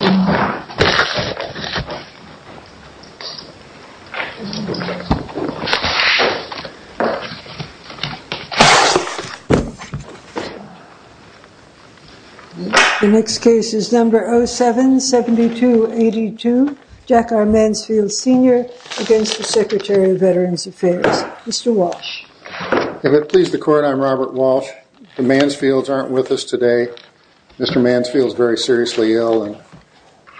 The next case is number 07-7282, Jack R. Mansfield Sr. against the Secretary of Veterans Affairs. Mr. Walsh. If it pleases the court, I'm Robert Walsh. The Mansfields aren't with us today. Mr. Mansfield is very seriously ill, and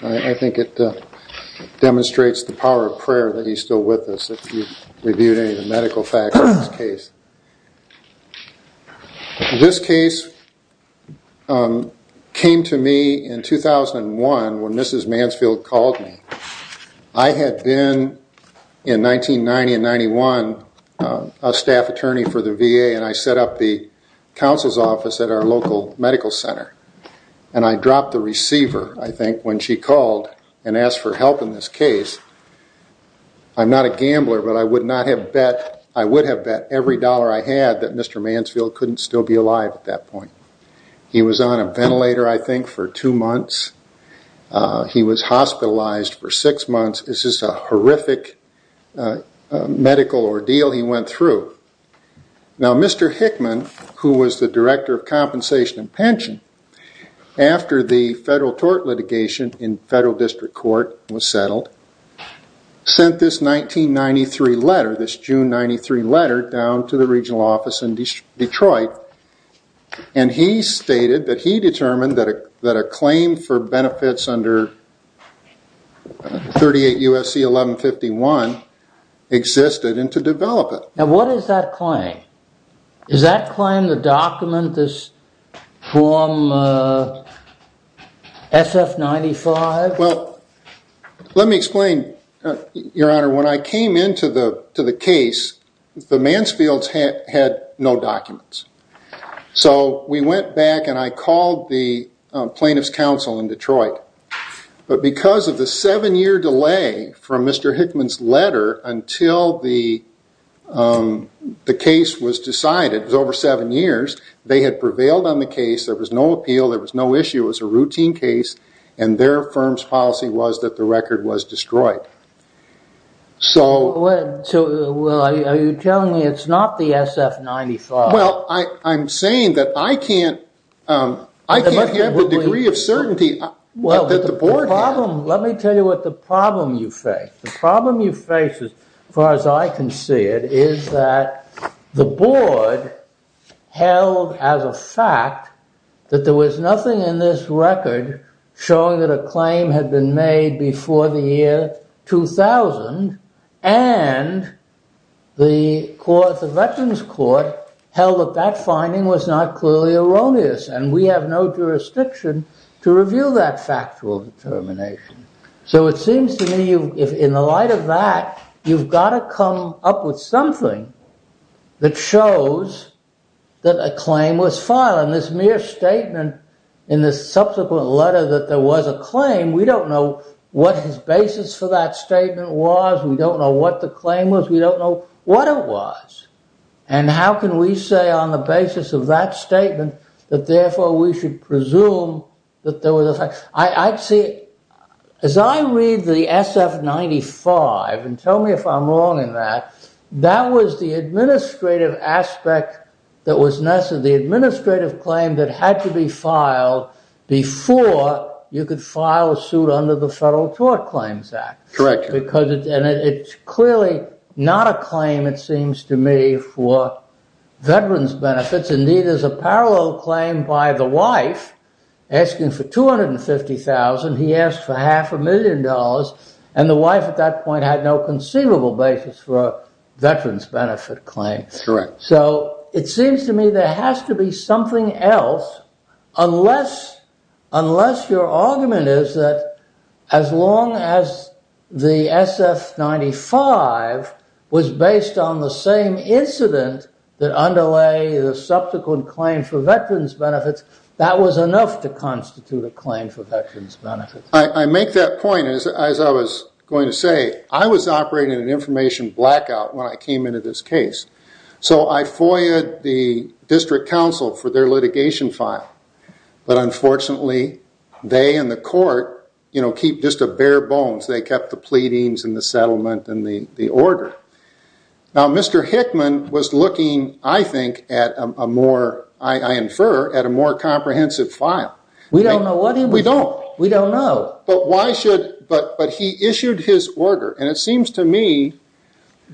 I think it demonstrates the power of prayer that he's still with us, if you've reviewed any of the medical facts of this case. This case came to me in 2001, when Mrs. Mansfield called me. I had been, in 1990 and 1991, a staff attorney for the VA, and I set up the counsel's office at our local medical center, and I dropped the receiver, I think, when she called and asked for help in this case. I'm not a gambler, but I would have bet every dollar I had that Mr. Mansfield couldn't still be alive at that point. He was on a ventilator, I think, for two months. He was hospitalized for six months. This is a horrific medical ordeal he went through. Now, Mr. Hickman, who was the Director of Compensation and Pension, after the federal tort litigation in federal district court was settled, sent this 1993 letter, this June 1993 letter, down to the regional office in Detroit. He stated that he determined that a claim for benefits under 38 U.S.C. 1151 existed and to develop it. Now, what is that claim? Is that claim the document, this form SF-95? Well, let me explain, Your Honor. When I came into the case, the Mansfields had no documents. So we went back and I called the plaintiff's counsel in Detroit, but because of the seven-year delay from Mr. Hickman's letter until the case was decided, it was over seven years, they had prevailed on the case. There was no appeal. There was no issue. It was a routine case, and their firm's policy was that the record was destroyed. So... So, well, are you telling me it's not the SF-95? Well, I'm saying that I can't have the degree of certainty that the board had. Let me tell you what the problem you face. The problem you face, as far as I can see it, is that the board held as a fact that there was nothing in this record showing that a claim had been made before the year 2000 and the court, the Veterans Court, held that that finding was not clearly erroneous, and we have no jurisdiction to reveal that factual determination. So it seems to me, in the light of that, you've got to come up with something that shows that a claim was filed, and this mere statement in the subsequent letter that there was a claim, we don't know what his basis for that statement was. We don't know what the claim was. We don't know what it was. And how can we say on the basis of that statement that therefore we should presume that there was a fact... I'd say, as I read the SF-95, and tell me if I'm wrong in that, that was the administrative aspect that was necessary, the administrative claim that had to be filed before you could file a suit under the Federal Tort Claims Act. Correct. And it's clearly not a claim, it seems to me, for veterans' benefits. Indeed, there's a parallel claim by the wife, asking for $250,000. He asked for half a million dollars, and the wife at that point had no conceivable basis for a veterans' benefit claim. So it seems to me there has to be something else, unless your argument is that as long as the SF-95 was based on the same incident that underlay the subsequent claim for veterans' benefits, that was enough to constitute a claim for veterans' benefits. I make that point, as I was going to say. I was operating in an information blackout when I came into this case. So I FOIAed the district council for their litigation file. But unfortunately, they and the court keep just a bare bones. They kept the pleadings, and the settlement, and the order. Now, Mr. Hickman was looking, I think, at a more, I infer, at a more comprehensive file. We don't know what he was doing. We don't know. But why should, but he issued his order. And it seems to me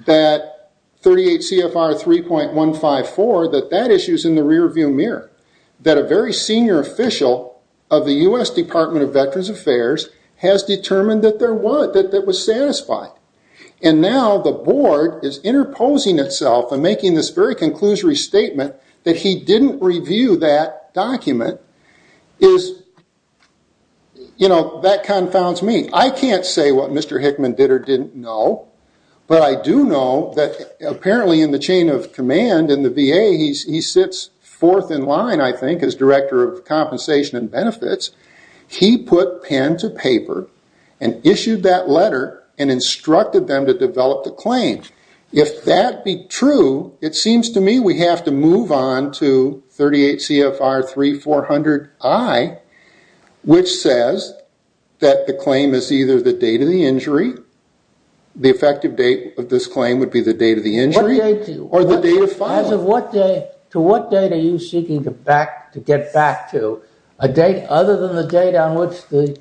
that 38 CFR 3.154, that that issue's in the rear view mirror. That a very senior official of the US Department of Veterans Affairs has determined that there was, that that was satisfied. And now the board is interposing itself and making this very conclusory statement that he didn't review that document is, you know, that confounds me. I can't say what Mr. Hickman did or didn't know. But I do know that apparently in the chain of command, in the VA, he sits fourth in line, I think, as Director of Compensation and Benefits. He put pen to paper and issued that letter and instructed them to develop the claim. If that be true, it seems to me we have to move on to 38 CFR 3.400i, which says that the claim is either the date of the injury, the effective date of this claim would be the date of the injury, or the date of filing. In terms of what date, to what date are you seeking to get back to? A date other than the date on which the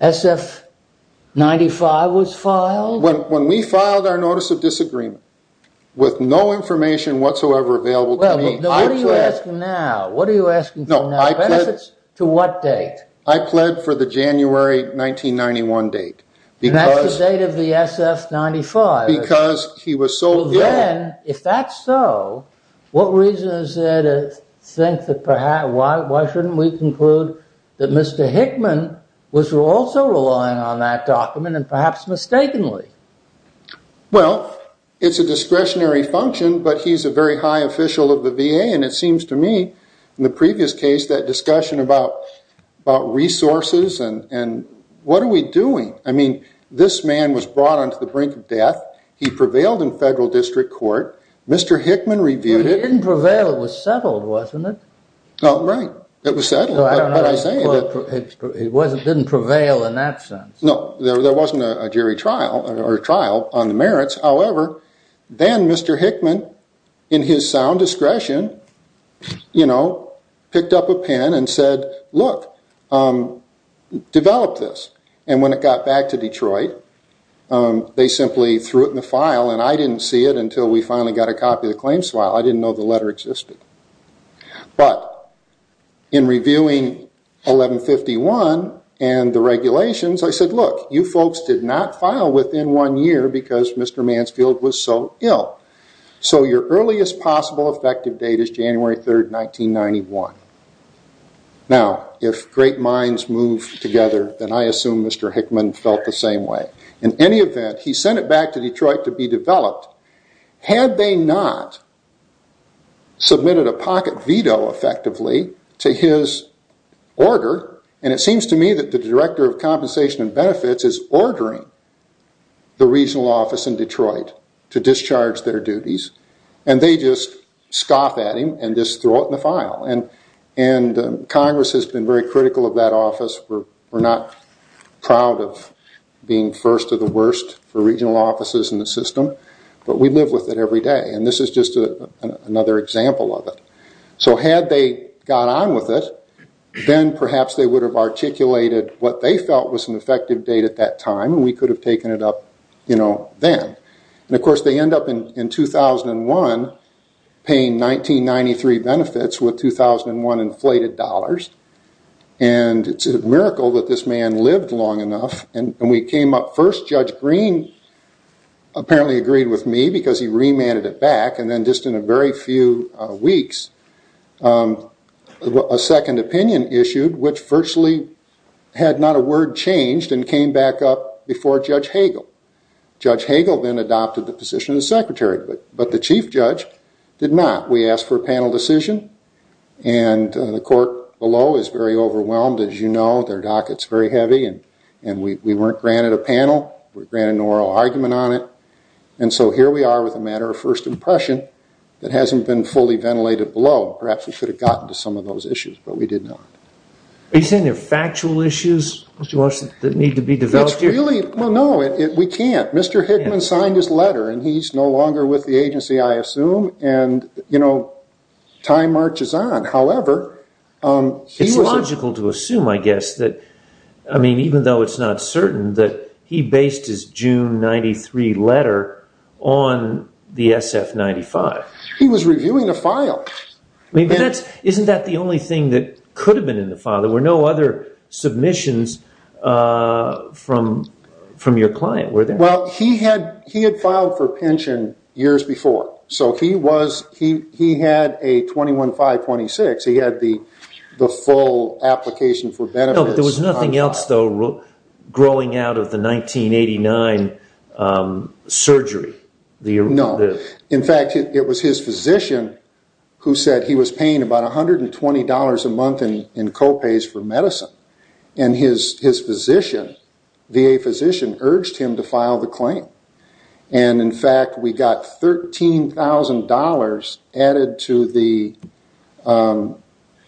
SF-95 was filed? When we filed our notice of disagreement, with no information whatsoever available to me, I pled... What are you asking now? What are you asking for now? No, I pled... To what date? I pled for the January 1991 date. And that's the date of the SF-95? Because he was so... Well, then, if that's so, what reason is there to think that perhaps... Why shouldn't we conclude that Mr. Hickman was also relying on that document, and perhaps mistakenly? Well, it's a discretionary function, but he's a very high official of the VA, and it seems to me, in the previous case, that discussion about resources and what are we doing? He prevailed in federal district court. Mr. Hickman reviewed it... He didn't prevail. It was settled, wasn't it? Oh, right. It was settled, but I say that... It didn't prevail in that sense. No, there wasn't a jury trial, or a trial, on the merits. However, then Mr. Hickman, in his sound discretion, you know, picked up a pen and said, look, develop this. And when it got back to Detroit, they simply threw it in the file, and I didn't see it until we finally got a copy of the claims file. I didn't know the letter existed. But in reviewing 1151 and the regulations, I said, look, you folks did not file within one year because Mr. Mansfield was so ill. So your earliest possible effective date is January 3rd, 1991. Now, if great minds move together, then I assume Mr. Hickman felt the same way. In any event, he sent it back to Detroit to be developed. Had they not submitted a pocket veto, effectively, to his order, and it seems to me that the Director of Compensation and Benefits is ordering the regional office in Detroit to discharge their duties, and they just scoff at him and just throw it in the file. And Congress has been very critical of that office. We're not proud of being first or the worst for regional offices in the system, but we live with it every day. And this is just another example of it. So had they got on with it, then perhaps they would have articulated what they felt was an effective date at that time, and we could have taken it up, you know, then. And of course, they end up in 2001 paying 1993 benefits with 2001 inflated dollars. And it's a miracle that this man lived long enough. And we came up first. Judge Green apparently agreed with me because he remanded it back. And then just in a very few weeks, a second opinion issued, which virtually had not a word changed, and came back up before Judge Hagel. Judge Hagel then adopted the position of secretary, but the chief judge did not. We asked for a panel decision, and the court below is very overwhelmed, as you know, their docket's very heavy, and we weren't granted a panel. We were granted an oral argument on it. And so here we are with a matter of first impression that hasn't been fully ventilated below. Perhaps we should have gotten to some of those issues, but we did not. Are you saying they're factual issues, Mr. Walsh, that need to be developed here? Well, no, we can't. Mr. Hickman signed his letter, and he's no longer with the agency, I assume. And time marches on. However, he was- It's logical to assume, I guess, that, I mean, even though it's not certain, that he based his June 93 letter on the SF-95. He was reviewing a file. Isn't that the only thing that could have been in the file? There were no other submissions from your client, were there? Well, he had filed for pension years before. So he had a 21-5-26. He had the full application for benefits. No, but there was nothing else, though, growing out of the 1989 surgery. No. In fact, it was his physician who said he was paying about $120 a month in co-pays for medicine. And his physician, VA physician, urged him to file the claim. And in fact, we got $13,000 added to the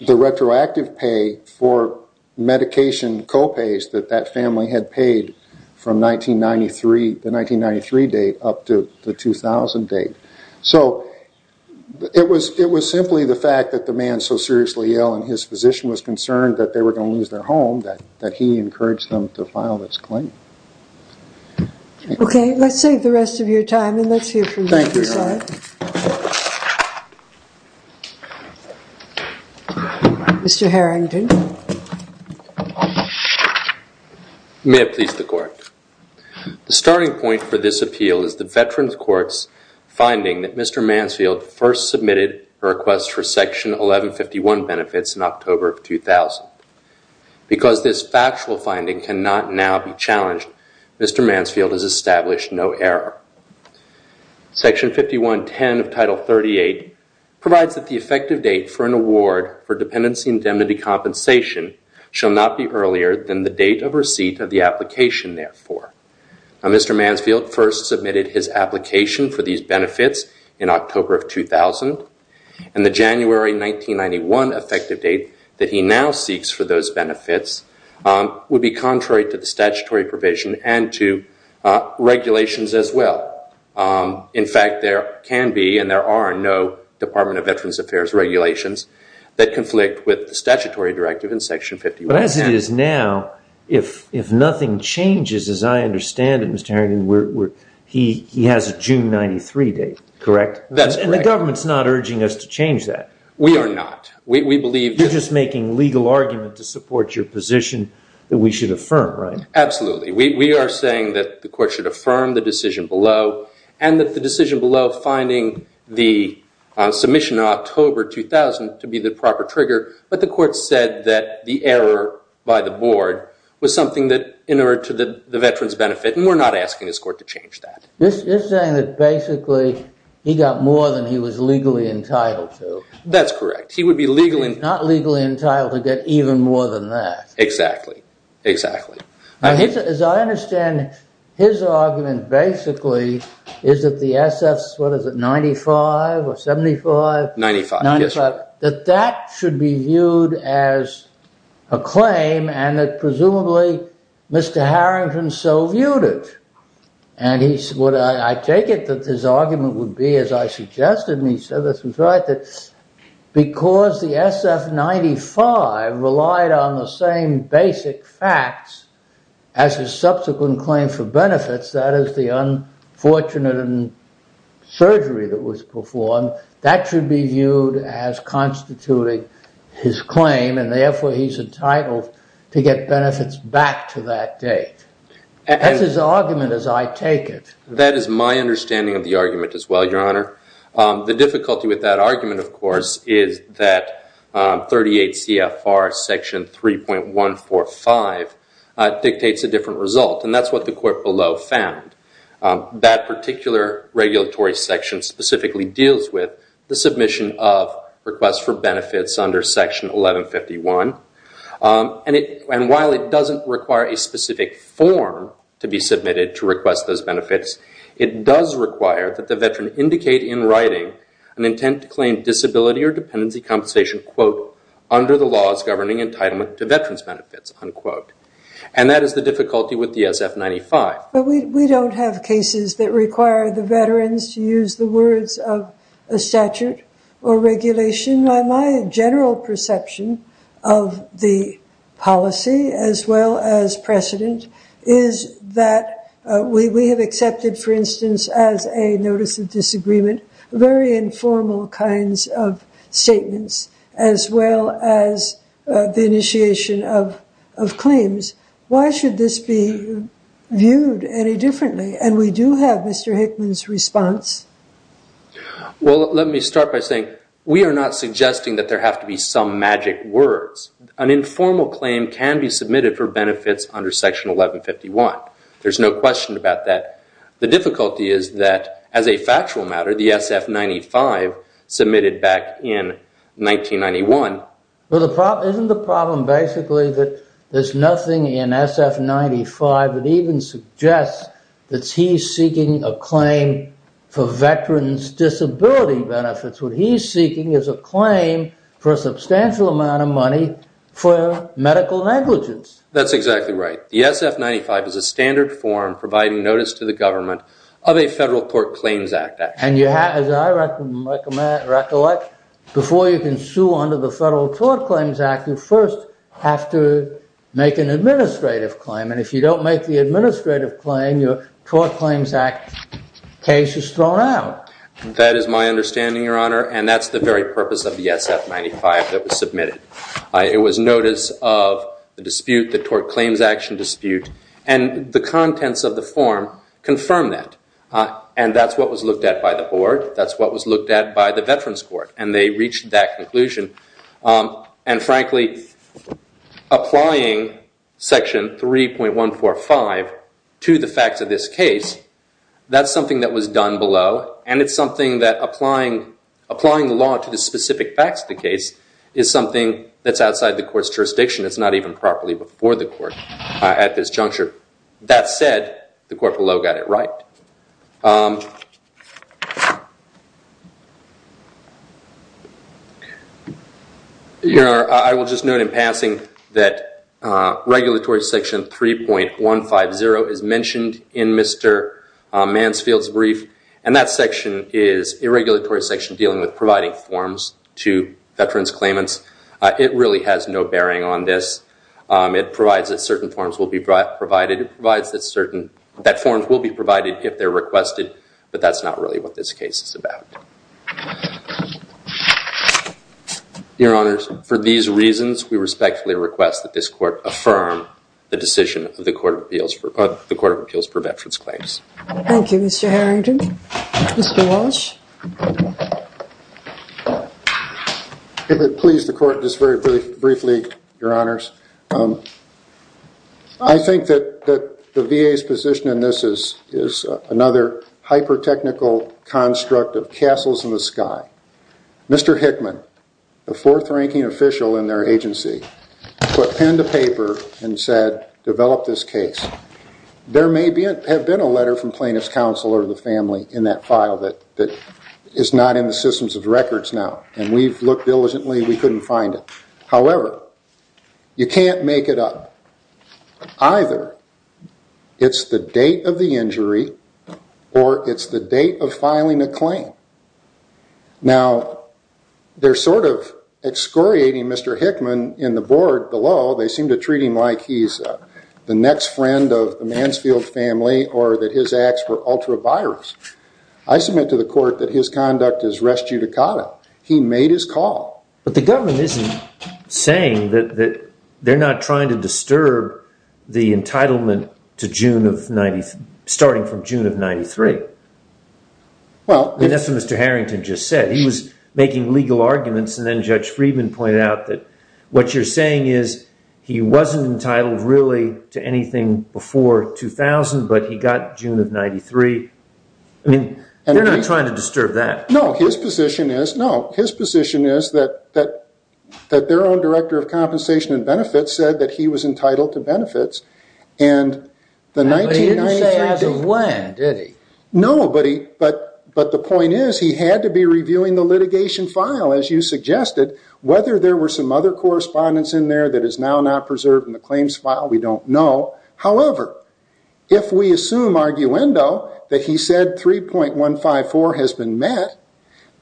retroactive pay for medication co-pays that that family had paid from the 1993 date up to the 2000 date. So it was simply the fact that the man was so seriously ill and his physician was concerned that they were going to lose their home that he encouraged them to file this claim. OK, let's save the rest of your time, and let's hear from the other side. Thank you, Your Honor. Mr. Harrington. May it please the Court. The starting point for this appeal is the Veterans Court's finding that Mr. Mansfield first submitted a request for Section 1151 benefits in October of 2000. Because this factual finding cannot now be challenged, Mr. Mansfield has established no error. Section 5110 of Title 38 provides that the effective date for an award for dependency indemnity compensation Mr. Mansfield first submitted his application for these benefits in October of 2000. And the January 1991 effective date that he now seeks for those benefits would be contrary to the statutory provision and to regulations as well. In fact, there can be and there are no Department of Veterans Affairs regulations that conflict with the statutory directive in Section 5110. But as it is now, if nothing changes, as I understand it, Mr. Harrington, he has a June 93 date, correct? That's correct. And the government's not urging us to change that. We are not. We believe that. You're just making legal argument to support your position that we should affirm, right? Absolutely. We are saying that the Court should affirm the decision below, and that the decision below finding the submission in October 2000 to be the proper trigger. But the court said that the error by the board was something that inured to the veteran's benefit. And we're not asking this court to change that. You're saying that basically he got more than he was legally entitled to. That's correct. He would be legally entitled to get even more than that. Exactly. Exactly. As I understand it, his argument basically is that the SF's, what is it, 95 or 75? 95. That that should be viewed as a claim, and that presumably Mr. Harrington so viewed it. And I take it that his argument would be, as I suggested, and he said this was right, that because the SF 95 relied on the same basic facts as his subsequent claim for benefits, that is the unfortunate surgery that was performed, that should be viewed as constituting his claim. And therefore, he's entitled to get benefits back to that date. That's his argument as I take it. That is my understanding of the argument as well, Your Honor. The difficulty with that argument, of course, is that 38 CFR section 3.145 dictates a different result. And that's what the court below found. That particular regulatory section specifically deals with the submission of requests for benefits under section 1151. And while it doesn't require a specific form to be submitted to request those benefits, it does require that the veteran indicate in writing an intent to claim disability or dependency compensation, quote, under the laws governing entitlement to veterans benefits, unquote. And that is the difficulty with the SF 95. But we don't have cases that require the veterans to use the words of a statute or regulation. My general perception of the policy as well as precedent is that we have accepted, for instance, as a notice of disagreement, very informal kinds of statements as well as the initiation of claims. Why should this be viewed any differently? And we do have Mr. Hickman's response. Well, let me start by saying we are not suggesting that there have to be some magic words. An informal claim can be submitted for benefits under section 1151. There's no question about that. The difficulty is that, as a factual matter, the SF 95 submitted back in 1991. Well, isn't the problem basically that there's nothing in SF 95 that even suggests that he's seeking a claim for veterans' disability benefits? What he's seeking is a claim for a substantial amount of money for medical negligence. That's exactly right. The SF 95 is a standard form providing notice to the government of a Federal Tort Claims Act. And as I recollect, before you can sue under the Federal Tort Claims Act, you first have to make an administrative claim. And if you don't make the administrative claim, your Tort Claims Act case is thrown out. That is my understanding, Your Honor. And that's the very purpose of the SF 95 that was submitted. It was notice of the dispute, the Tort Claims Action dispute. And the contents of the form confirm that. And that's what was looked at by the board. That's what was looked at by the Veterans Court. And they reached that conclusion. And frankly, applying Section 3.145 to the facts of this case, that's something that was done below. And it's something that applying the law to the specific facts of the case is something that's outside the court's jurisdiction. It's not even properly before the court at this juncture. That said, the court below got it right. Your Honor, I will just note in passing that regulatory section 3.150 is mentioned in Mr. Mansfield's brief. And that section is a regulatory section dealing with providing forms to veterans claimants. It really has no bearing on this. It provides that certain forms will be provided. It provides that certain forms will be provided if they're requested. But that's not really what this case is about. Your Honors, for these reasons, we respectfully request that this court affirm the decision of the Court of Appeals for Veterans Claims. Thank you, Mr. Harrington. Mr. Walsh. If it please the court, just very briefly, Your Honors. I think that the VA's position in this is another hyper-technical construct of castles in the sky. Mr. Hickman, the fourth-ranking official in their agency, put pen to paper and said, develop this case. There may have been a letter from plaintiff's counsel or the family in that file that is not in the systems of records now. And we've looked diligently. We couldn't find it. However, you can't make it up. Either it's the date of the injury, or it's the date of filing a claim. Now, they're sort of excoriating Mr. Hickman in the board below. They seem to treat him like he's the next friend of the Mansfield family, or that his acts were ultra-virus. I submit to the court that his conduct is res judicata. He made his call. But the government isn't saying that they're not trying to disturb the entitlement to June of 90, starting from June of 93. Well, that's what Mr. Harrington just said. He was making legal arguments, and then Judge Friedman pointed out that what you're saying is he wasn't entitled, really, to anything before 2000, but he got June of 93. I mean, they're not trying to disturb that. No, his position is that their own director of compensation and benefits said that he was entitled to benefits. And the 1993 date. But he didn't say as of when, did he? No, but the point is he had to be reviewing the litigation file, as you suggested. Whether there were some other correspondence in there that is now not preserved in the claims file, we don't know. However, if we assume arguendo, that he said 3.154 has been met,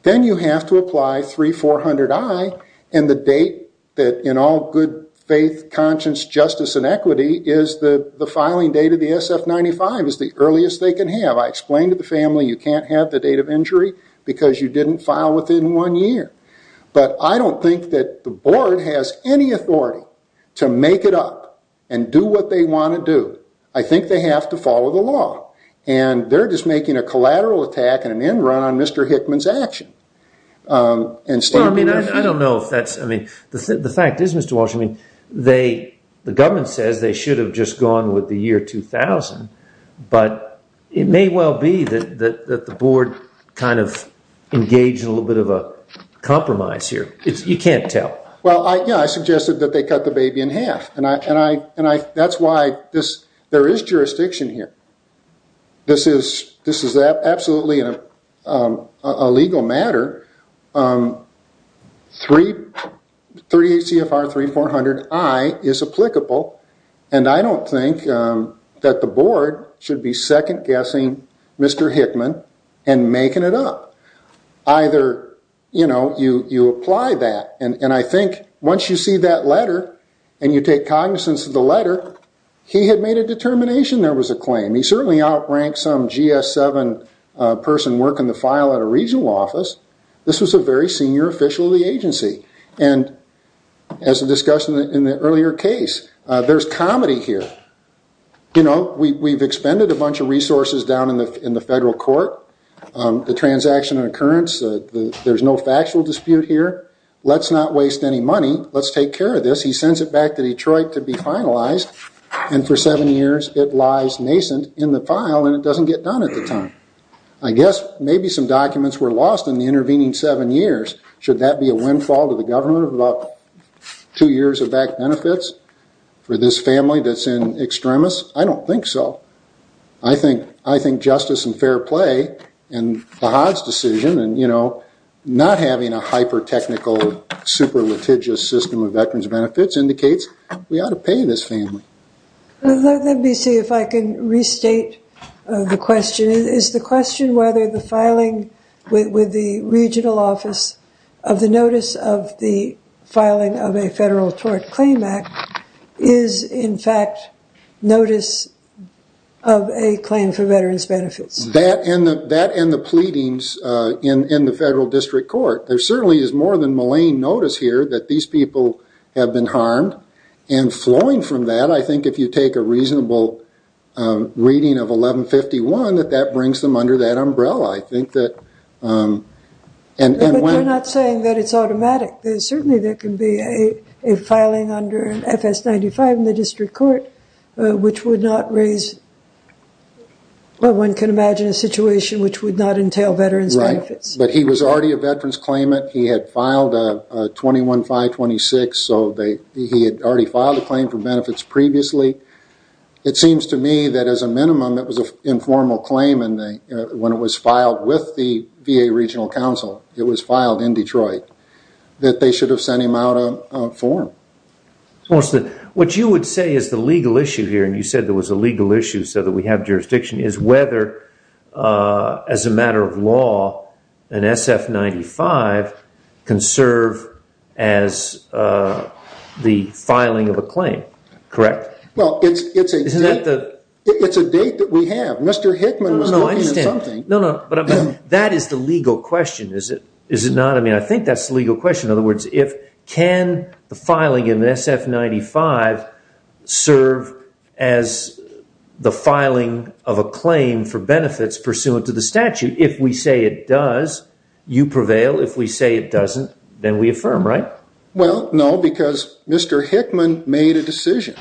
then you have to apply 3400i, and the date that, in all good faith, conscience, justice, and equity is the filing date of the SF-95 is the earliest they can have. I explained to the family, you can't have the date of injury because you didn't file within one year. But I don't think that the board has any authority to make it up and do what they want to do. I think they have to follow the law. And they're just making a collateral attack and an end run on Mr. Hickman's action. And Stan, do you agree? I don't know if that's, I mean, the fact is, Mr. Walsh, I mean, the government says they should have just gone with the year 2000. But it may well be that the board kind of engaged a little bit of a compromise here. You can't tell. Well, yeah, I suggested that they cut the baby in half. And that's why there is jurisdiction here. This is absolutely a legal matter. 3 ACFR 3400I is applicable. And I don't think that the board should be second guessing Mr. Hickman and making it up. Either you apply that. And I think once you see that letter and you take cognizance of the letter, he had made a determination there was a claim. He certainly outranked some GS-7 person working the file at a regional office. This was a very senior official of the agency. And as a discussion in the earlier case, there's comedy here. We've expended a bunch of resources down in the federal court. The transaction and occurrence, there's no factual dispute here. Let's not waste any money. Let's take care of this. He sends it back to Detroit to be finalized. And for seven years, it lies nascent in the file. And it doesn't get done at the time. I guess maybe some documents were lost in the intervening seven years. Should that be a windfall to the government of about two years of back benefits for this family that's in extremis? I don't think so. I think justice and fair play in the Hodge decision and not having a hyper-technical, super-litigious system of veterans benefits indicates we ought to pay this family. Let me see if I can restate the question. Is the question whether the filing with the regional office of the notice of the filing of a federal tort claim act is, in fact, notice of a claim for veterans benefits? That and the pleadings in the federal district court. There certainly is more than malign notice here that these people have been harmed. And flowing from that, I think if you take a reasonable reading of 1151, that that brings them under that umbrella. I think that and when- But you're not saying that it's automatic. Certainly there can be a filing under FS-95 in the district court, which would not raise, well, one can imagine a situation which would not entail veterans benefits. But he was already a veterans claimant. He had filed a 21-5-26, so he had already filed a claim for benefits previously. It seems to me that, as a minimum, it was an informal claim. And when it was filed with the VA Regional Council, it was filed in Detroit, that they should have sent him out a form. What you would say is the legal issue here, and you said there was a legal issue so that we have jurisdiction, is whether, as a matter of law, an SF-95 can serve as the filing of a claim, correct? Well, it's a date that we have. Mr. Hickman was looking at something. No, no, but that is the legal question, is it not? I mean, I think that's the legal question. In other words, can the filing in the SF-95 serve as the filing of a claim for benefits pursuant to the statute? If we say it does, you prevail. If we say it doesn't, then we affirm, right? Well, no, because Mr. Hickman made a decision.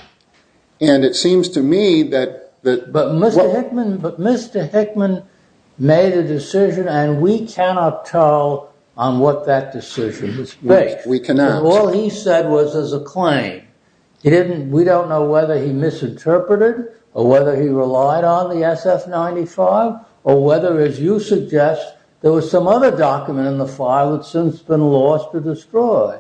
And it seems to me that the- But Mr. Hickman made a decision, and we cannot tell on what that decision was based. We cannot. All he said was as a claim. We don't know whether he misinterpreted or whether he relied on the SF-95 or whether, as you suggest, there was some other document in the file that's since been lost or destroyed.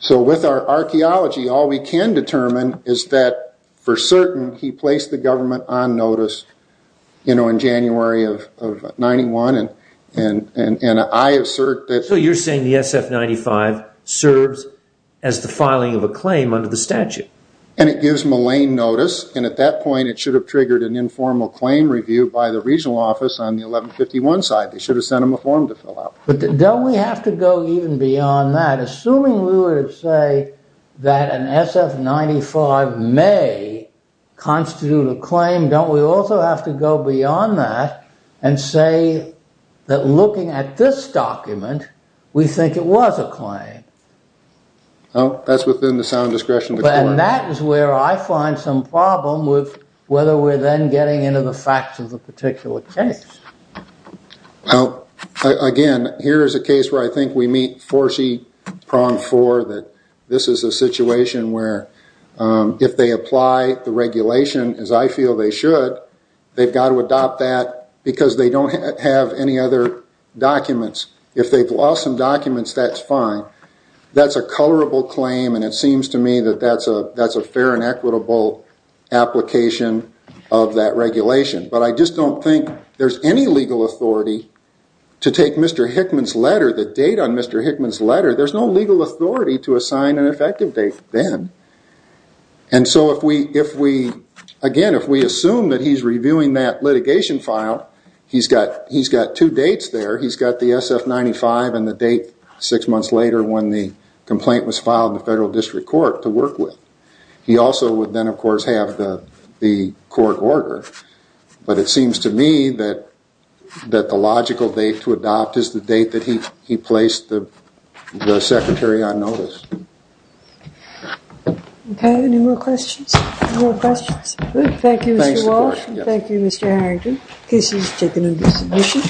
So with our archaeology, all we can determine is that, for certain, he placed the government on notice in January of 91, and I assert that- So you're saying the SF-95 serves as the filing of a claim under the statute. And it gives Mulane notice, and at that point, it should have triggered an informal claim review by the regional office on the 1151 side. They should have sent him a form to fill out. But don't we have to go even beyond that? Assuming we would say that an SF-95 may constitute a claim, don't we also have to go beyond that and say that, looking at this document, we think it was a claim? Well, that's within the sound discretion of the court. And that is where I find some problem with whether we're then getting into the facts of the particular case. Well, again, here is a case where I think we meet 4C, prong 4, that this is a situation where if they apply the regulation, as I feel they should, they've got to adopt that because they don't have any other documents. If they've lost some documents, that's fine. That's a colorable claim, and it seems to me that that's a fair and equitable application of that regulation. But I just don't think there's any legal authority to take Mr. Hickman's letter, the date on Mr. Hickman's letter. There's no legal authority to assign an effective date then. And so, again, if we assume that he's reviewing that litigation file, he's got two dates there. He's got the SF-95 and the date six months later when the complaint was filed in the federal district court to work with. He also would then, of course, have the court order. But it seems to me that the logical date to adopt is the date that he placed the secretary on notice. OK. Any more questions? No more questions? Good. Thank you, Mr. Walsh. Thank you, Mr. Harrington. Case is taken into submission.